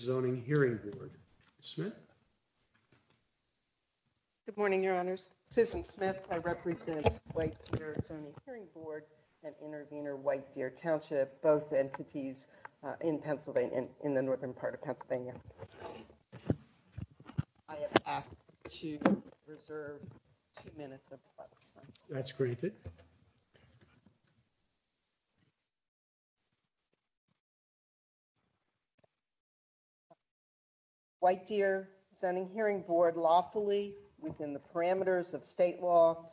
Zoning Hearing Board and Intervenor White Deer Township, both entities in Pennsylvania, in the northern part of Pennsylvania. White Deer Zoning Hearing Board lawfully, within the parameters of state law,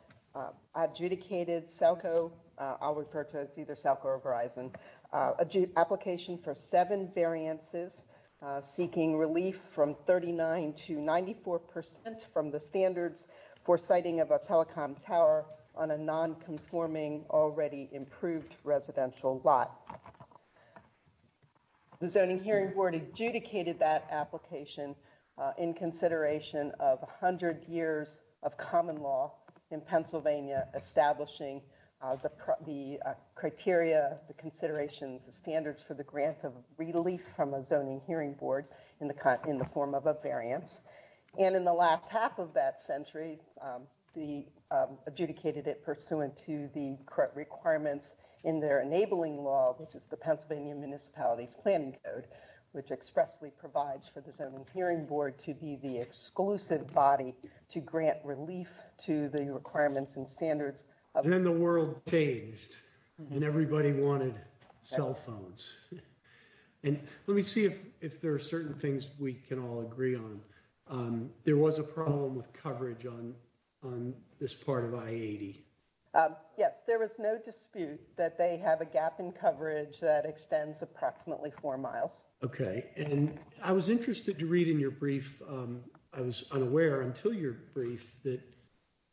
adjudicated SELCO, I'll refer to it as either SELCO or Verizon, an application for seven variances, seeking relief from 39 to 94 percent from the standards for siting of a telecom tower on a non-conforming, already improved residential lot. The Zoning Hearing Board adjudicated that application in consideration of 100 years of common law in Pennsylvania, establishing the criteria, the considerations, the standards for the grant of relief from a Zoning Hearing Board in the form of a variance. And in the last half of that century, they adjudicated it pursuant to the current requirements in their enabling law, which is the Pennsylvania Municipalities Planning Code, which expressly provides for the Zoning Hearing Board to be the exclusive body to grant relief to the requirements and standards. And then the world changed and everybody wanted cell phones. And let me see if there are certain things we can all agree on. There was a problem with coverage on this part of I-80. Yes, there was no dispute that they have a gap in coverage that extends approximately four miles. OK. And I was interested to read in your brief, I was unaware until your brief, that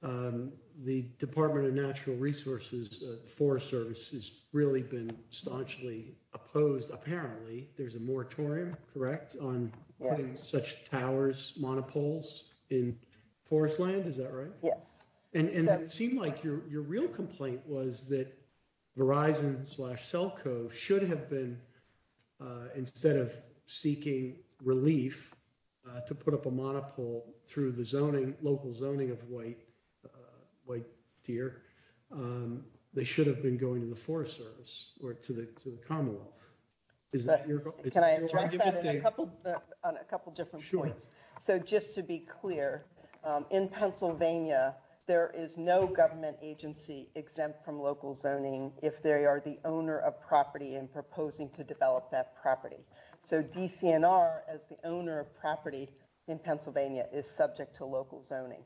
the Department of Natural Resources Forest Service has really been staunchly opposed, apparently. There's a moratorium, correct, on putting such towers, monopoles in forest land, is that right? Yes. And it seemed like your real complaint was that Verizon slash Celco should have been, instead of seeking relief to put up a monopole through the zoning, local zoning of white deer, they should have been going to the Forest Service or to the Commonwealth. Is that your point? Can I address that on a couple of different points? Sure. So just to be clear, in Pennsylvania, there is no government agency exempt from local zoning if they are the owner of property and proposing to develop that property. So DCNR, as the owner of property in Pennsylvania, is subject to local zoning.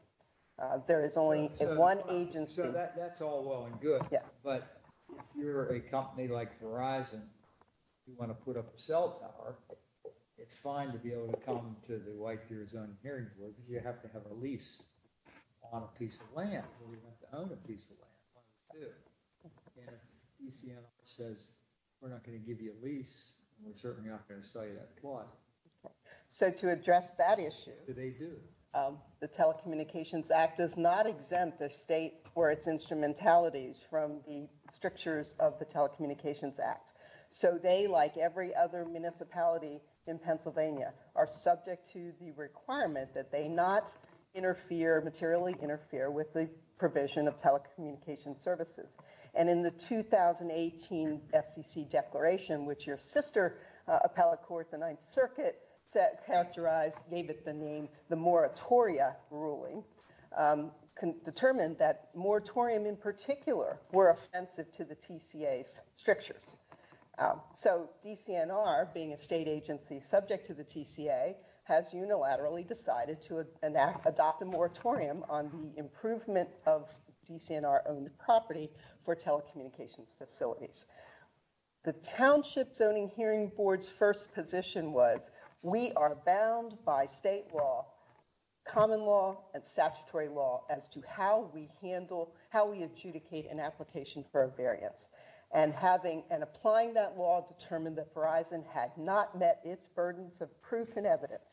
There is only one agency. So that's all well and good. But if you're a company like Verizon, you want to put up a cell tower, it's fine to be able to come to the White Deer Zone Hearing Board, but you have to have a lease on a piece of land, or you have to own a piece of land, one or two. And if DCNR says, we're not going to give you a lease, we're certainly not going to sell you that plaza. So to address that issue, the Telecommunications Act does not exempt the state or its instrumentalities from the strictures of the Telecommunications Act. So they, like every other municipality in Pennsylvania, are subject to the requirement that they not interfere, materially interfere, with the provision of telecommunications services. And in the 2018 FCC declaration, which your sister appellate court, the Ninth Circuit, characterized, gave it the name, the moratoria ruling, determined that moratorium in particular were offensive to the TCA's strictures. So DCNR, being a state agency subject to the TCA, has unilaterally decided to adopt a moratorium on the improvement of DCNR-owned property for telecommunications facilities. The Township Zoning Hearing Board's first position was, we are bound by state law, common law, and statutory law, as to how we handle, how we adjudicate an application for a variance. And having, and applying that law, determined that Verizon had not met its burdens of proof and evidence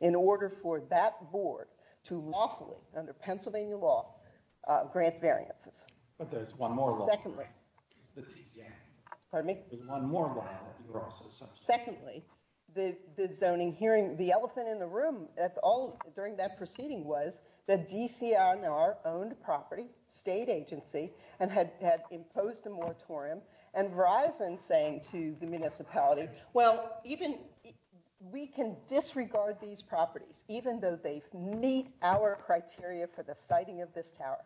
in order for that board to lawfully, under Pennsylvania law, grant variances. But there's one more law, the TCA, there's one more law that you're also subject to. Secondly, the zoning hearing, the elephant in the room at all during that proceeding was that DCNR-owned property, state agency, and had imposed a moratorium. And Verizon saying to the municipality, well, even, we can disregard these properties, even though they meet our criteria for the siting of this tower.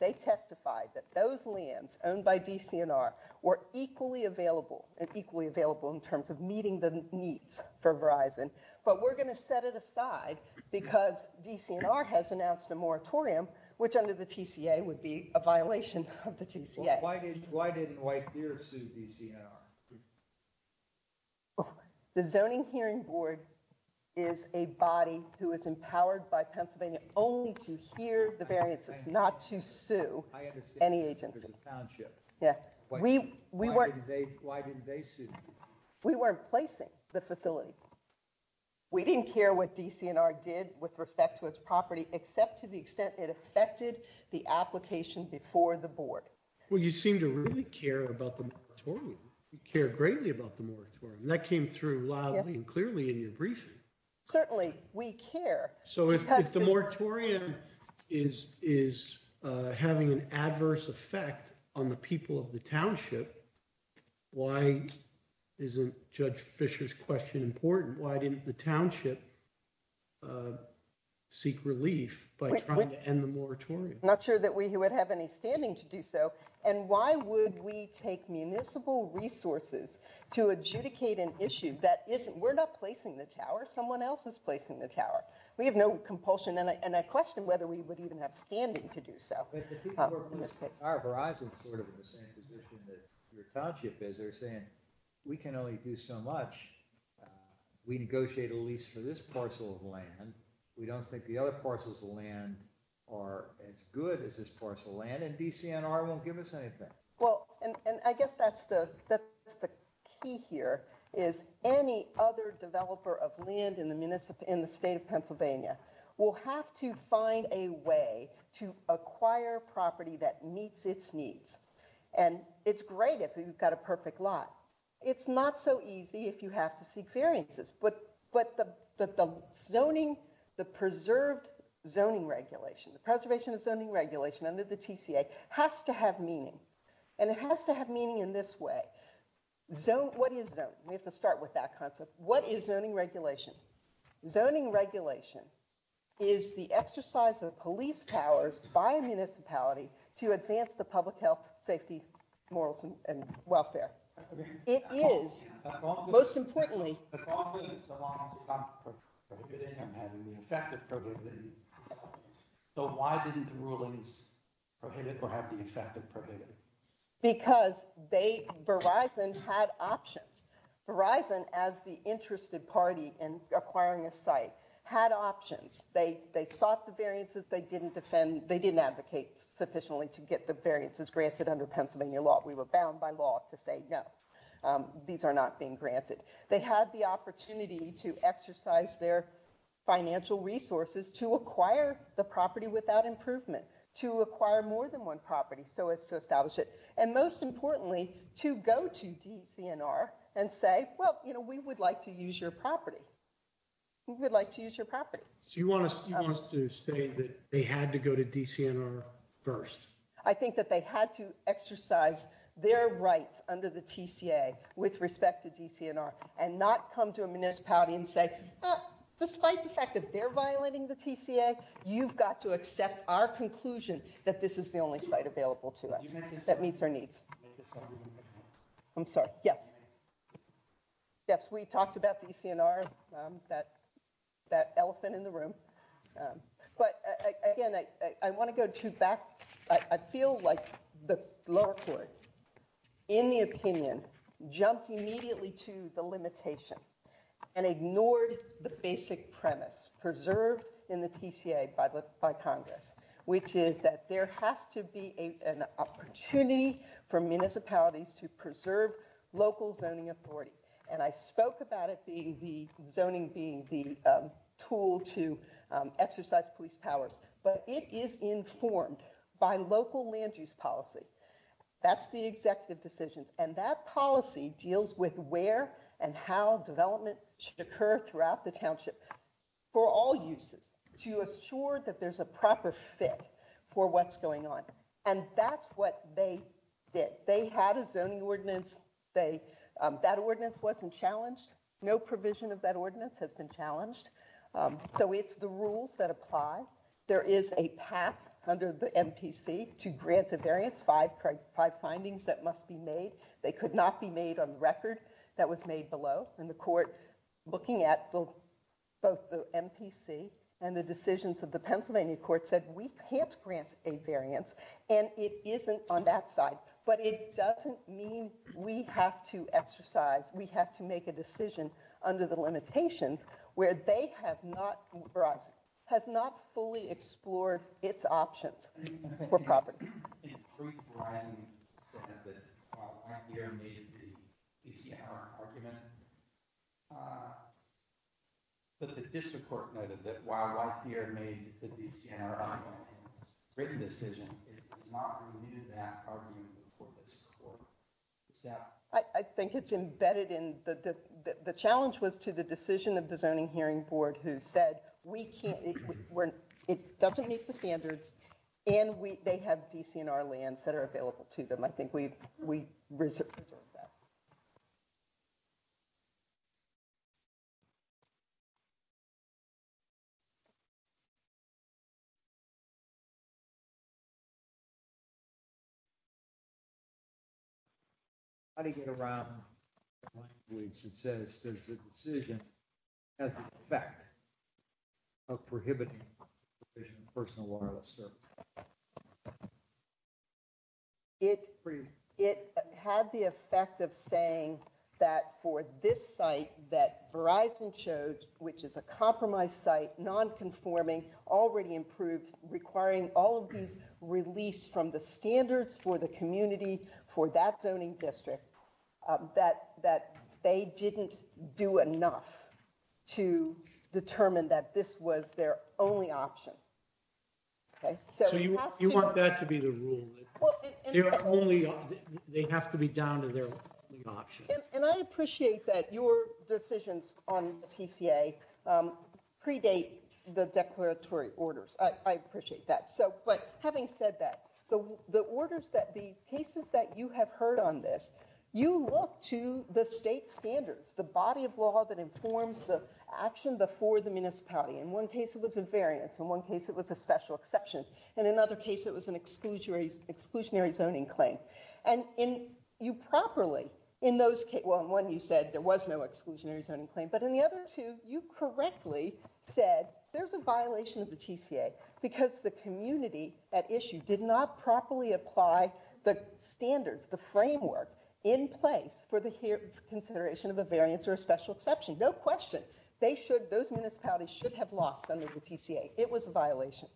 They testified that those lands owned by DCNR were equally available, and equally available in terms of meeting the needs for Verizon. But we're going to set it aside, because DCNR has announced a moratorium, which under the TCA would be a violation of the TCA. Why didn't White Deer sue DCNR? The Zoning Hearing Board is a body who is empowered by Pennsylvania only to hear the variances, not to sue any agency. I understand, but there's a township. Yeah. Why didn't they sue? We weren't placing the facility. We didn't care what DCNR did with respect to its property, except to the extent it affected the application before the board. Well, you seem to really care about the moratorium. You care greatly about the moratorium. That came through loudly and clearly in your briefing. Certainly, we care. So if the moratorium is having an adverse effect on the people of the township, why isn't Judge Fischer's question important? Why didn't the township seek relief by trying to end the moratorium? Not sure that we would have any standing to do so. And why would we take municipal resources to adjudicate an issue that isn't? We're not placing the tower. Someone else is placing the tower. We have no compulsion. And I question whether we would even have standing to do so. But the people who are placing our horizon sort of in the same position that your township is, they're saying, we can only do so much. We negotiate a lease for this parcel of land. We don't think the other parcels of land are as good as this parcel of land. And DCNR won't give us anything. Well, and I guess that's the key here, is any other developer of land in the state of Pennsylvania will have to find a way to acquire property that meets its needs. And it's great if we've got a perfect lot. It's not so easy if you have to seek variances. But the zoning, the preserved zoning regulation, the preservation of zoning regulation under the TCA has to have meaning and it has to have meaning in this way. What is zone? We have to start with that concept. What is zoning regulation? Zoning regulation is the exercise of police powers by a municipality to advance the public health, safety, morals, and welfare. It is, most importantly. So why didn't the rulings prohibit or have the effect of prohibiting? Because Verizon had options. Verizon, as the interested party in acquiring a site, had options. They sought the variances. They didn't defend. They didn't advocate sufficiently to get the variances granted under Pennsylvania law. We were bound by law to say, no, these are not being granted. They had the opportunity to exercise their financial resources to acquire the property without improvement, to acquire more than one property so as to establish it. And most importantly, to go to DCNR and say, well, you know, we would like to use your property. We would like to use your property. So you want us to say that they had to go to DCNR first? I think that they had to exercise their rights under the TCA with respect to DCNR and not come to a municipality and say, despite the fact that they're violating the TCA, you've got to accept our conclusion that this is the only site available to us that meets our needs. I'm sorry. Yes. Yes, we talked about DCNR, that elephant in the room. But again, I want to go to back. I feel like the lower court, in the opinion, jumped immediately to the limitation and ignored the basic premise preserved in the TCA by Congress, which is that there has to be an opportunity for municipalities to preserve local zoning authority. And I spoke about it being the zoning being the tool to exercise police powers. But it is informed by local land use policy. That's the executive decisions. And that policy deals with where and how development should occur throughout the township for all uses to assure that there's a proper fit for what's going on. And that's what they did. They had a zoning ordinance. They that ordinance wasn't challenged. No provision of that ordinance has been challenged. So it's the rules that apply. There is a path under the MPC to grant a variance. Five, five findings that must be made. They could not be made on record. That was made below. And the court looking at both the MPC and the decisions of the Pennsylvania court said we can't grant a variance. And it isn't on that side. But it doesn't mean we have to exercise. We have to make a decision under the limitations where they have not for us has not fully explored its options for property. In truth, Verizon said that while White Deer made the DCR argument, but the district court noted that while White Deer made the DCR written decision, it did not review that argument for this court. I think it's embedded in the challenge was to the decision of the zoning hearing board who said we can't when it doesn't meet the standards and we they have DCNR lands that are available to them. I think we we reserve that. How do you get around it says there's a decision as a fact of prohibiting personal wireless, sir. It it had the effect of saying that for this site that Verizon chose, which is a compromised site, nonconforming, already improved, requiring all of these released from the standards for the community, for that zoning district, that that they didn't do enough to determine that this was their only option. OK, so you want that to be the rule. You're only they have to be down to their option. And I appreciate that your decisions on TCA predate the declaratory orders. I appreciate that. So but having said that, the orders that the cases that you have heard on this, you look to the state standards, the body of law that informs the action before the municipality. In one case, it was a variance. In one case, it was a special exception. In another case, it was an exclusionary exclusionary zoning claim. And in you properly in those cases, one, you said there was no exclusionary zoning claim, but in the other two, you correctly said there's a violation of the TCA because the community at issue did not properly apply the standards, the framework in place for the consideration of a variance or a special exception. No question. They should those municipalities should have lost under the TCA. It was a violation.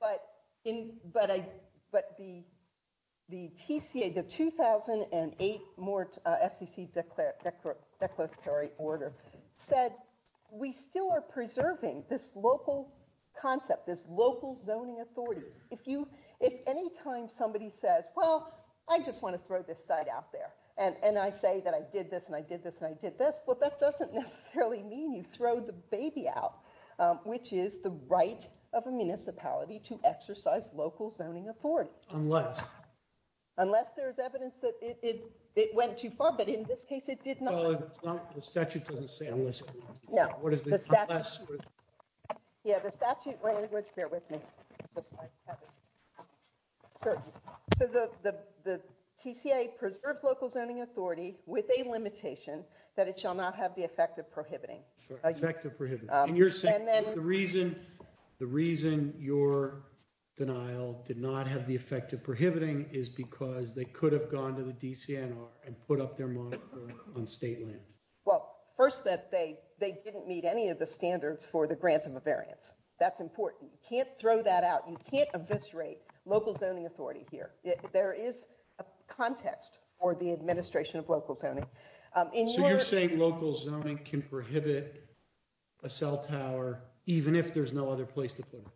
But in but I but the the TCA, the 2008 more FCC declaratory order said we still are preserving this local concept, this local zoning authority. If you if any time somebody says, well, I just want to throw this site out there and I say that I did this and I did this and I did this. Well, that doesn't necessarily mean you throw the baby out, which is the right of a municipality to exercise local zoning authority unless unless there is evidence that it went too far. But in this case, it did not. The statute doesn't say unless. Yeah. What is this? Yeah, the statute language. Bear with me. So the the TCA preserves local zoning authority with a limitation that it will not have the effect of prohibiting effective prohibit. And you're saying that the reason the reason your denial did not have the effect of prohibiting is because they could have gone to the DCNR and put up their monitor on state land. Well, first that they they didn't meet any of the standards for the grant of a variance. That's important. You can't throw that out. You can't eviscerate local zoning authority here. There is a context for the administration of local zoning. So you're saying local zoning can prohibit a cell tower even if there's no other place to put it?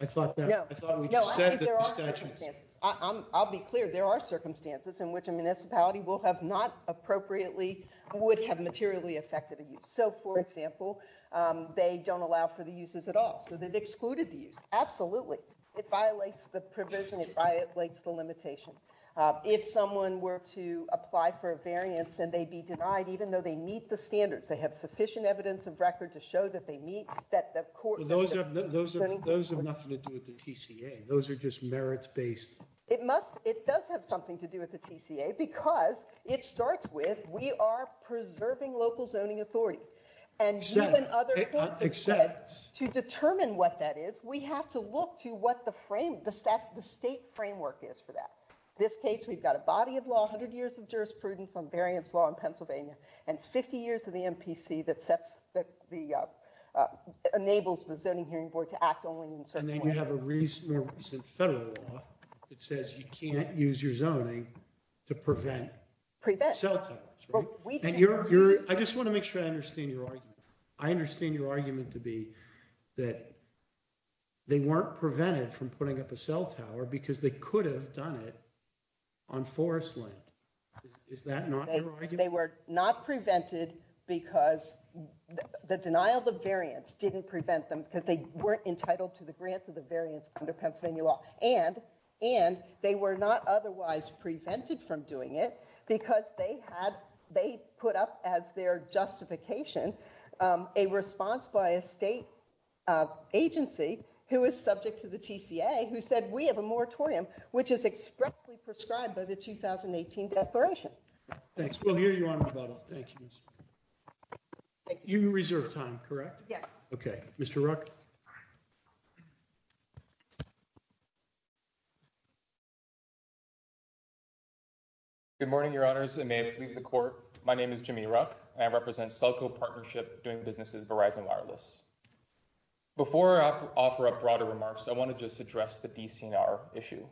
I thought that I thought we said that there are statutes. I'll be clear. There are circumstances in which a municipality will have not appropriately would have materially affected. So, for example, they don't allow for the uses at all. So they've excluded the use. Absolutely. It violates the provision. It violates the limitation. If someone were to apply for a variance and they'd be denied, even though they meet the standards, they have sufficient evidence of record to show that they meet that. Of course, those are those are those have nothing to do with the TCA. Those are just merits based. It must. It does have something to do with the TCA because it starts with we are preserving local zoning authority. And so other except to determine what that is. We have to look to what the frame the state the state framework is for that. This case, we've got a body of law, 100 years of jurisprudence on variance law in Pennsylvania and 50 years of the MPC that sets the enables the zoning hearing board to act only. And then you have a recent federal law that says you can't use your zoning to prevent. Prevent. So we think you're I just want to make sure I understand your argument. I understand your argument to be that. They weren't prevented from putting up a cell tower because they could have done it on forest land. Is that they were not prevented because the denial of variance didn't prevent them because they weren't entitled to the grant of the variance under Pennsylvania law and and they were not otherwise prevented from doing it because they had they put up as their justification a response by a state agency who is subject to the TCA, who said we have a moratorium which is expressly prescribed by the 2018 declaration. Thanks. We'll hear you on the phone. Thank you. You reserve time, correct? Yes. OK, Mr. Ruck. Good morning, your honors, and may it please the court. My name is Jimmy Ruck and I represent Selco Partnership doing businesses, Verizon Wireless. Before I offer up broader remarks, I want to just address the DCNR issue.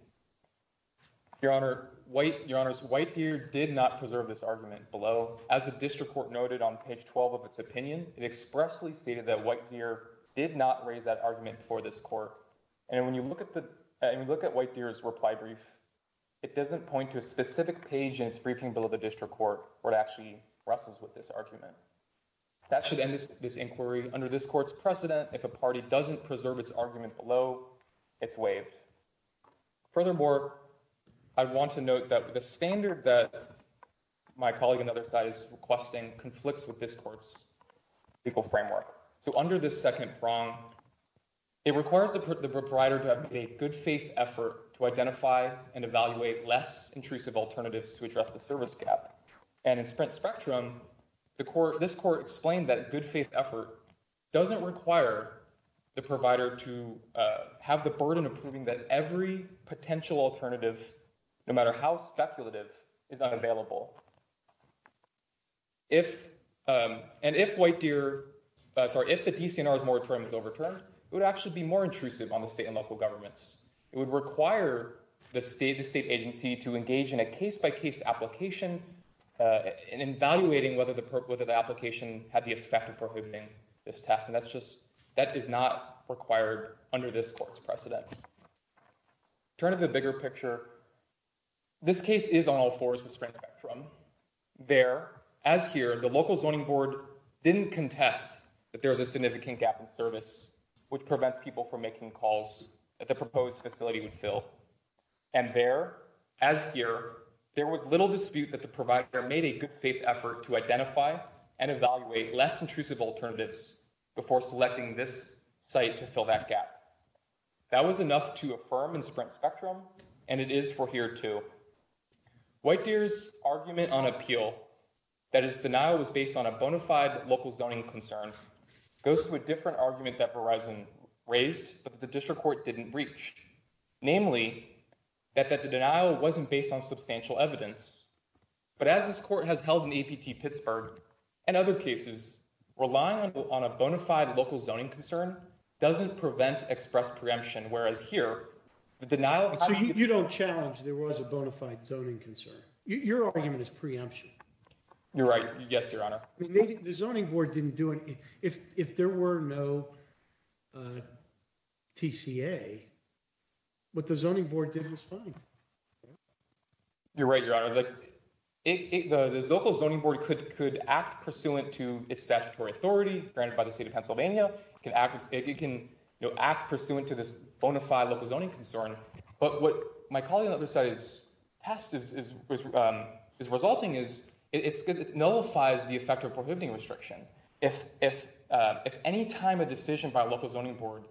Your honor, white your honors, White Deer did not preserve this argument below, as the district court noted on page 12 of its opinion, it expressly stated that White Deer did not raise that argument for this court. And when you look at the look at White Deer's reply brief, it doesn't point to a White Deer that actually wrestles with this argument that should end this inquiry under this court's precedent. If a party doesn't preserve its argument below, it's waived. Furthermore, I want to note that the standard that my colleague on the other side is requesting conflicts with this court's legal framework. So under this second prong, it requires the proprietor to have a good faith effort to identify and evaluate less intrusive alternatives to address the service gap. And in Sprint Spectrum, the court, this court explained that good faith effort doesn't require the provider to have the burden of proving that every potential alternative, no matter how speculative, is unavailable. If and if White Deer, sorry, if the DCNR's moratorium is overturned, it would actually be more intrusive on the state and local governments. It would require the state agency to engage in a case by case application in evaluating whether the application had the effect of prohibiting this test. And that's just that is not required under this court's precedent. Turn to the bigger picture, this case is on all fours with Sprint Spectrum. There, as here, the local zoning board didn't contest that there was a significant gap in calls that the proposed facility would fill. And there, as here, there was little dispute that the provider made a good faith effort to identify and evaluate less intrusive alternatives before selecting this site to fill that gap. That was enough to affirm in Sprint Spectrum, and it is for here too. White Deer's argument on appeal that his denial was based on a bona fide local zoning concern goes to a different argument that Verizon raised, but the district court didn't reach, namely that that the denial wasn't based on substantial evidence. But as this court has held in APT Pittsburgh and other cases, relying on a bona fide local zoning concern doesn't prevent express preemption, whereas here the denial. So you don't challenge there was a bona fide zoning concern. Your argument is preemption. You're right. Yes, Your Honor. The zoning board didn't do it. If there were no TCA, what the zoning board did was fine. You're right, Your Honor. The local zoning board could could act pursuant to its statutory authority granted by the state of Pennsylvania. It can act pursuant to this bona fide local zoning concern. But what my colleague on the other side's test is resulting is it nullifies the effect of prohibiting restriction. If any time a decision by a local zoning board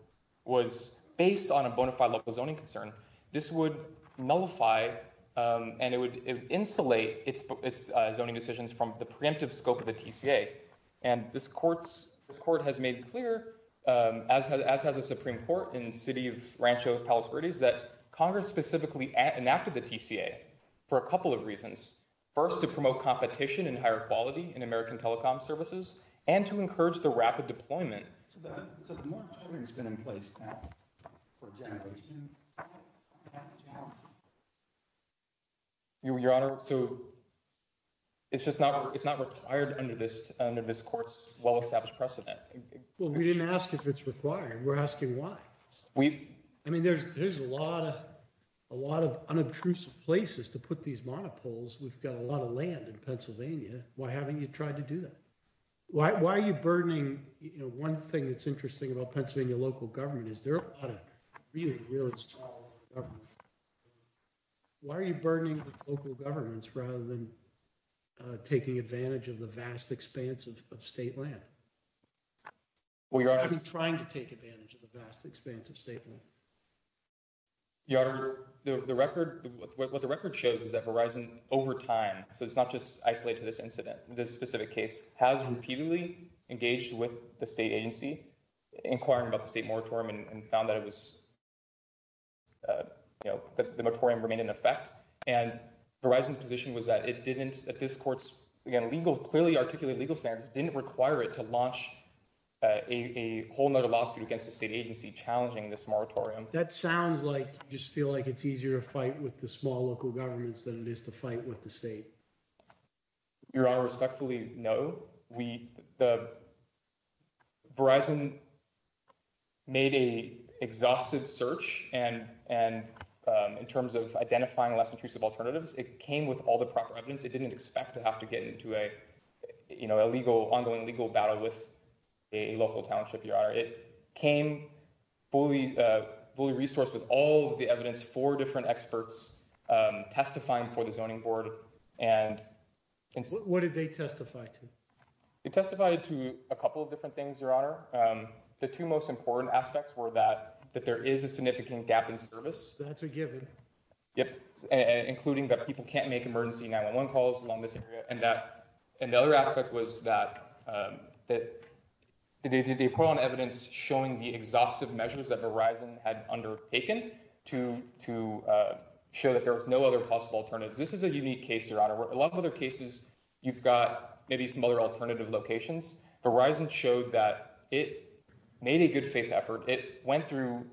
was based on a bona fide local zoning concern, this would nullify and it would insulate its zoning decisions from the preemptive scope of the TCA. And this court has made clear, as has the Supreme Court in the city of Rancho of Congress, specifically enacted the TCA for a couple of reasons, first, to promote competition and higher quality in American telecom services and to encourage the rapid deployment. So the moratorium has been in place now for a generation, half a generation. Your Honor, so. It's just not it's not required under this under this court's well established precedent. Well, we didn't ask if it's required. We're asking why we. I mean, there's there's a lot of a lot of unobtrusive places to put these monopoles. We've got a lot of land in Pennsylvania. Why haven't you tried to do that? Why are you burdening? One thing that's interesting about Pennsylvania local government is there are a lot of really, really strong. Why are you burdening local governments rather than taking advantage of the vast expanse of state land? We are trying to take advantage of the vast expanse of state land. Your Honor, the record, what the record shows is that Verizon over time, so it's not just isolated to this incident, this specific case has repeatedly engaged with the state agency inquiring about the state moratorium and found that it was. You know, the moratorium remained in effect and Verizon's position was that it didn't at this court's legal, clearly articulated legal standard didn't require it to limit the launch. A whole nother lawsuit against the state agency challenging this moratorium. That sounds like you just feel like it's easier to fight with the small local governments than it is to fight with the state. Your Honor, respectfully, no, we the. Verizon made a exhaustive search and and in terms of identifying less intrusive alternatives, it came with all the proper evidence it didn't expect to have to get into a, you know, a legal ongoing legal battle with a local township. Your Honor, it came fully, fully resourced with all of the evidence for different experts testifying for the zoning board. And what did they testify to? It testified to a couple of different things. Your Honor, the two most important aspects were that that there is a significant gap in service. That's a given. Yep. And including that people can't make emergency 911 calls along this area and that and the other aspect was that that they put on evidence showing the exhaustive measures that Verizon had undertaken to to show that there was no other possible alternatives. This is a unique case. Your Honor, a lot of other cases, you've got maybe some other alternative locations. Verizon showed that it made a good faith effort. It went through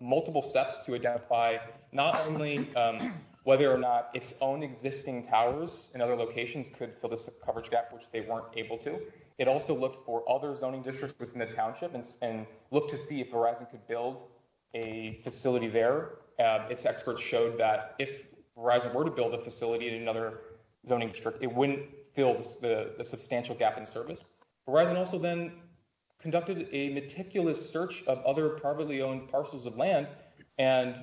multiple steps to identify not only whether or not its own existing towers and other locations could fill this coverage gap, which they weren't able to. It also looked for other zoning districts within the township and look to see if Verizon could build a facility there. Its experts showed that if Verizon were to build a facility in another zoning district, it wouldn't fill the substantial gap in service. Verizon also then conducted a meticulous search of other privately owned parcels of land and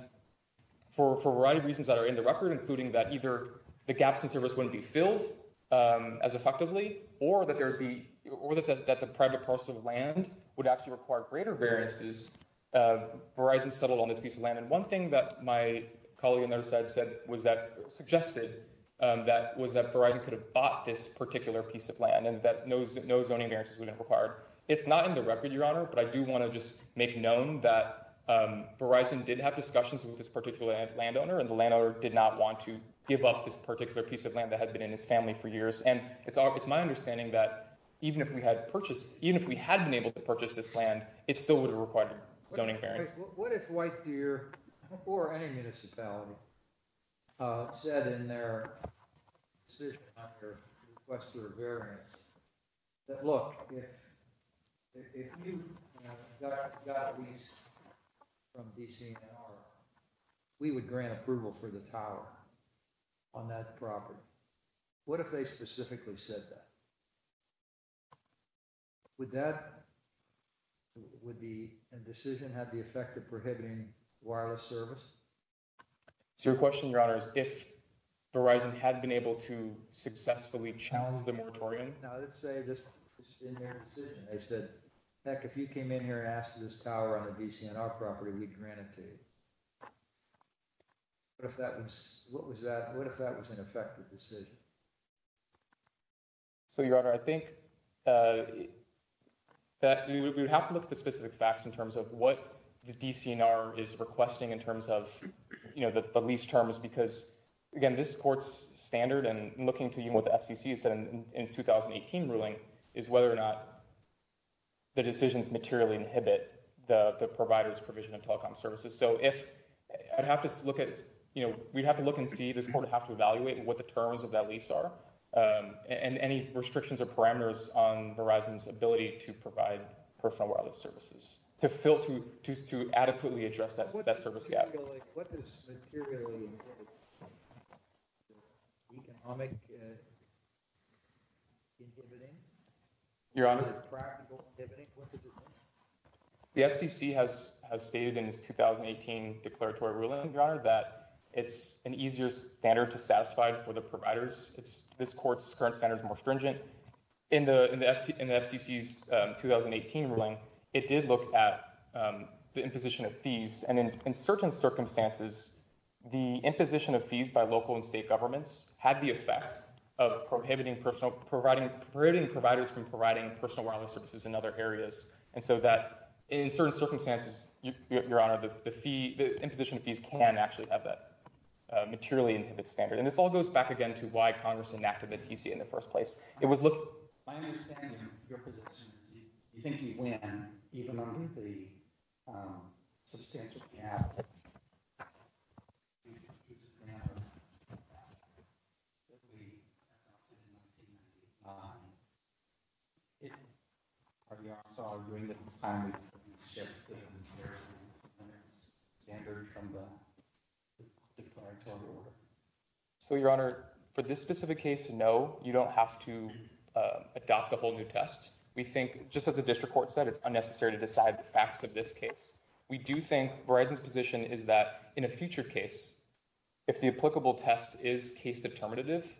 for a variety of reasons that are in the record, including that either the gaps in service wouldn't be filled as effectively or that there would be or that the private parcel of land would actually require greater variances. Verizon settled on this piece of land. And one thing that my colleague on the other side said was that suggested that was that Verizon could have bought this particular piece of land and that no zoning variances would have required. It's not in the record, Your Honor, but I do want to just make known that Verizon did have discussions with this particular landowner and the landowner did not want to give up this particular piece of land that had been in his family for years. And it's all it's my understanding that even if we had purchased, even if we had been able to purchase this land, it still would have required zoning variance. What if White Deer or any municipality said in their decision after request for a variance that, look, if you got a lease from DC, we would grant approval for the tower on that property. What if they specifically said that? Would that. Would the decision have the effect of prohibiting wireless service? So your question, Your Honor, is if Verizon had been able to successfully challenge the moratorium, now let's say this in their decision, they said, heck, if you came in here and asked for this tower on the DCNR property, we'd grant it to you. But if that was what was that, what if that was an effective decision? So, Your Honor, I think that we would have to look at the specific facts in terms of what the DCNR is requesting in terms of the lease terms, because, again, this court's standard and looking to you with FCC said in its 2018 ruling is whether or not the decisions materially inhibit the provider's provision of telecom services. So if I have to look at, you know, we have to look and see this court have to evaluate what the terms of that lease are and any restrictions or parameters on Verizon's ability to provide personal wireless services to fill to choose to adequately address that service gap. What does materially. Economic. Your Honor. The FCC has stated in its 2018 declaratory ruling that it's an easier standard to satisfy for the providers. It's this court's current standards more stringent in the in the FCC's 2018 ruling. It did look at the imposition of fees and in certain circumstances, the imposition of fees by local and state governments had the effect of prohibiting personal providing providing providers from providing personal wireless services in other areas. And so that in certain circumstances, Your Honor, the fee, the imposition of fees can actually have that materially inhibits standard. And this all goes back again to why Congress enacted the TC in the first place. It was look. My understanding of your position is you think you win even under the substantial gap. Are you also arguing that it's time to shift the standard from the declaratory order? So, Your Honor, for this specific case, no, you don't have to adopt a whole new test. We think just as the district court said, it's unnecessary to decide the facts of this case. We do think Verizon's position is that in a future case, if the applicable test is case determinative,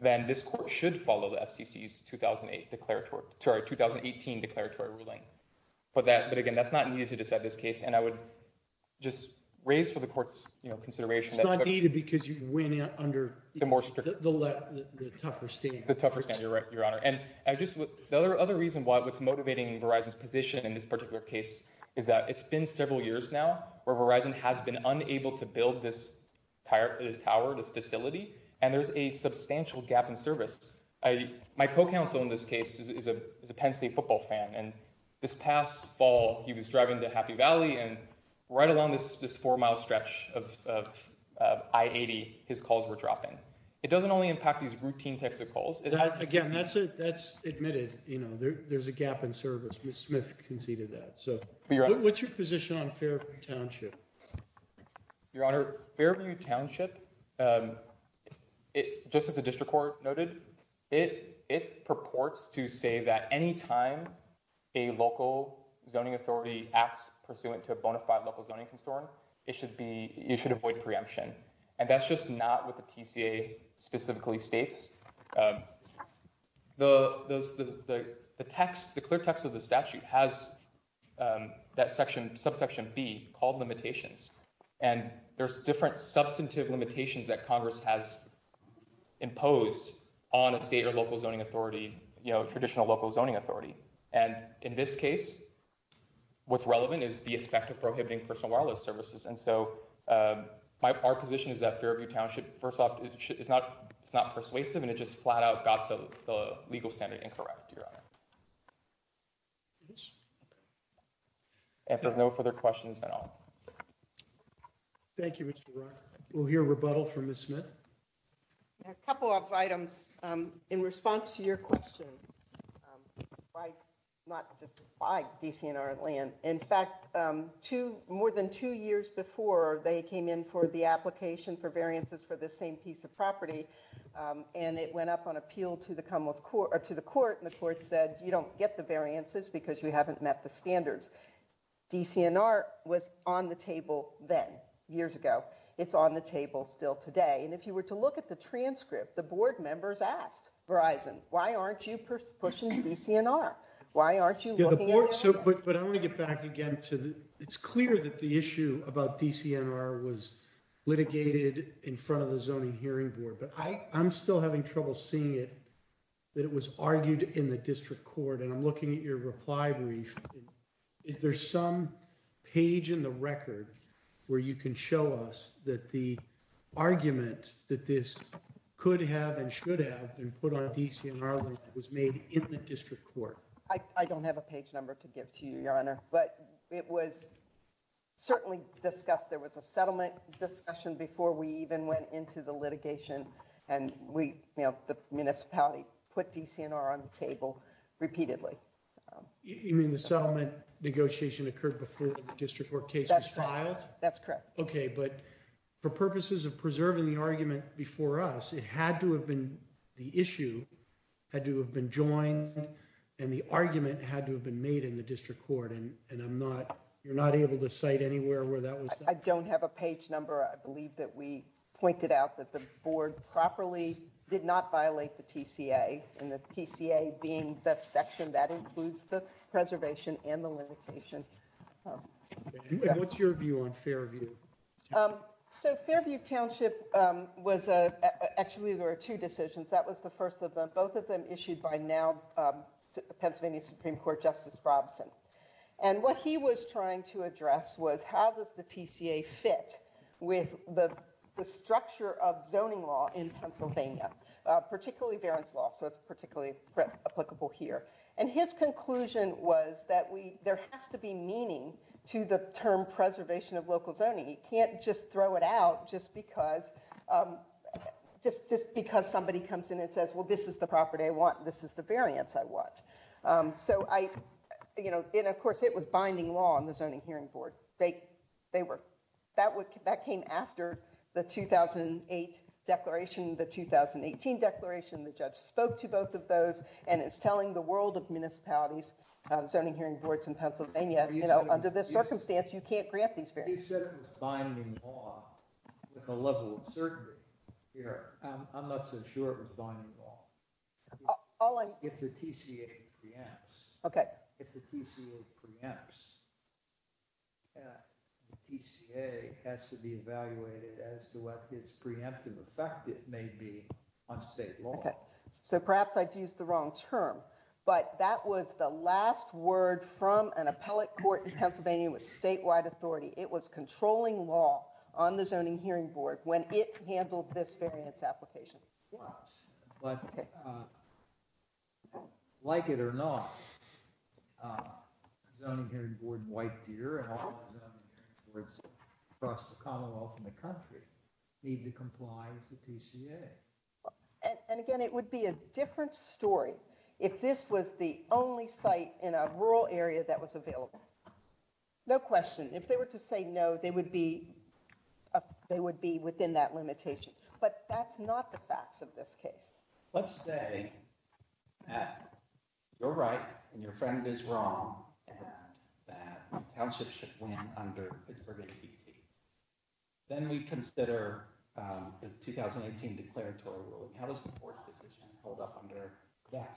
then this court should follow the FCC's 2008 declaratory 2018 declaratory ruling. But that but again, that's not needed to decide this case. And I would just raise for the court's consideration. It's not needed because you win under the more strict, the tougher state, the tougher state. You're right, Your Honor. And I just the other other reason why what's motivating Verizon's position in this particular case is that it's been several years now where Verizon has been unable to build this tower, this facility, and there's a substantial gap in service. My co-counsel in this case is a Penn State football fan. And this past fall, he was driving to Happy Valley and right along this four mile stretch of I-80, his calls were dropping. It doesn't only impact these routine types of calls. Again, that's it. That's admitted. You know, there's a gap in service. Ms. Smith conceded that. So what's your position on Fairview Township? Your Honor, Fairview Township, just as the district court noted, it it purports to say that any time a local zoning authority acts pursuant to a bona fide local zoning concern, it should be you should avoid preemption. And that's just not what the TCA specifically states. The text, the clear text of the statute has that section, subsection B called limitations. And there's different substantive limitations that Congress has imposed on a state or local zoning authority, you know, traditional local zoning authority. And in this case, what's relevant is the effect of prohibiting personal wireless services. And so our position is that Fairview Township, first off, it's not it's not persuasive. And it just flat out got the legal standard incorrect, Your Honor. And there's no further questions at all. Thank you, Mr. Ryan. We'll hear rebuttal from Ms. Smith. A couple of items in response to your question. Why not just buy DCNR land? In fact, two more than two years before they came in for the application for variances for the same piece of property, and it went up on appeal to the Commonwealth Court or to the court. And the court said, you don't get the variances because you haven't met the standards. DCNR was on the table then, years ago. It's on the table still today. And if you were to look at the transcript, the board members asked Verizon, why aren't you pushing DCNR? Why aren't you looking at it? But I want to get back again to it's clear that the issue about DCNR was litigated in front of the Zoning Hearing Board. But I'm still having trouble seeing it, that it was argued in the district court. And I'm looking at your reply brief. Is there some page in the record where you can show us that the argument that this could have and should have been put on DCNR land was made in the district court? I don't have a page number to give to you, Your Honor. But it was certainly discussed. There was a settlement discussion before we even went into the litigation. And we, you know, the municipality put DCNR on the table repeatedly. You mean the settlement negotiation occurred before the district court case was filed? That's correct. Okay. But for purposes of preserving the argument before us, it had to have been, the issue had to have been joined. And the argument had to have been made in the district court. And I'm not, you're not able to cite anywhere where that was. I don't have a page number. I believe that we pointed out that the board properly did not violate the TCA. And the TCA being the section that includes the preservation and the limitation. And what's your view on Fairview? So Fairview Township was, actually, there were two decisions. That was the first of them. Both of them issued by now Pennsylvania Supreme Court Justice Robson. And what he was trying to address was how does the TCA fit with the structure of zoning law in Pennsylvania, particularly Barron's law. So it's particularly applicable here. And his conclusion was that we, there has to be meaning to the term preservation of local zoning. You can't just throw it out just because, just because somebody comes in and says, well, this is the property I want. This is the variance I want. So I, you know, and of course, it was binding law on the zoning hearing board. They were, that came after the 2008 declaration, the 2018 declaration. The judge spoke to both of those. And it's telling the world of municipalities, zoning hearing boards in Pennsylvania, you know, under this circumstance, you can't grant these variances. He said it was binding law with a level of certainty here. I'm not so sure it was binding law. If the TCA preempts, if the TCA preempts, the TCA has to be evaluated as to what its preemptive effect it may be on state law. So perhaps I've used the wrong term, but that was the last word from an appellate court in Pennsylvania with statewide authority. It was controlling law on the zoning hearing board when it handled this variance application. But like it or not, zoning hearing board in White Deer and all the zoning hearing boards across the commonwealth in the country need to comply with the TCA. And again, it would be a different story if this was the only site in a rural area that was available. No question. If they were to say no, they would be, they would be within that limitation. But that's not the facts of this case. Let's say that you're right and your friend is wrong and that the township should win under Pittsburgh APT. Then we consider the 2018 declaratory ruling. How does the board decision hold up under that standard?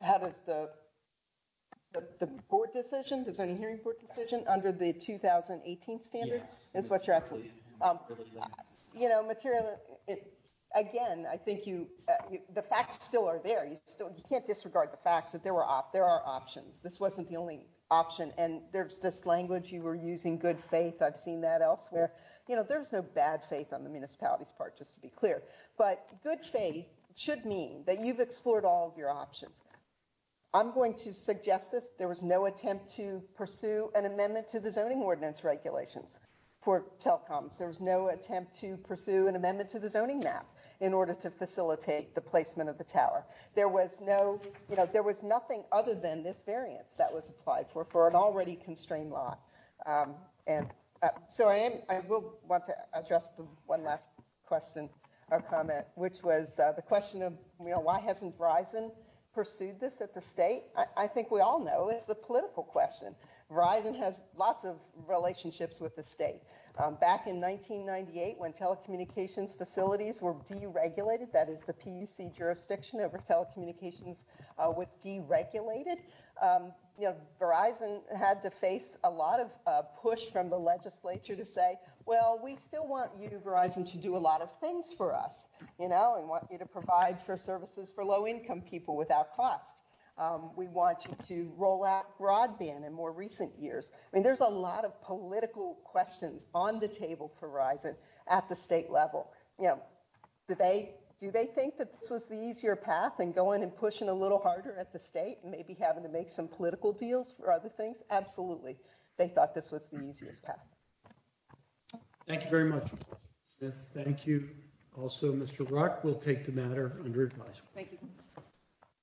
How does the board decision, the zoning hearing board decision under the 2018 standards is what you're asking? You know, material, again, I think you, the facts still are there. You still, you can't disregard the facts that there were, there are options. This wasn't the only option. And there's this language you were using good faith. I've seen that elsewhere. You know, there's no bad faith on the municipality's part, just to be clear. But good faith should mean that you've explored all of your options. I'm going to suggest this. There was no attempt to pursue an amendment to the zoning ordinance regulations for telecoms. There was no attempt to pursue an amendment to the zoning map in order to facilitate the placement of the tower. There was no, you know, there was nothing other than this variance that was applied for, for an already constrained lot. And so I will want to address the one last question or comment, which was the question of, you know, why hasn't Verizon pursued this at the state? I think we all know it's the political question. Verizon has lots of relationships with the state. Back in 1998, when telecommunications facilities were deregulated, that is the PUC jurisdiction over telecommunications was deregulated, you know, Verizon had to face a lot of push from the legislature to say, well, we still want you, Verizon, to do a lot of things for us, you know, and want you to provide services for low income people without cost. We want you to roll out broadband in more recent years. I mean, there's a lot of political questions on the table for Verizon at the state level. You know, do they think that this was the easier path and going and pushing a little harder at the state and maybe having to make some political deals for other things? Absolutely. They thought this was the easiest path. Thank you very much. Thank you. Also, Mr. Ruck will take the matter under advisement. Thank you.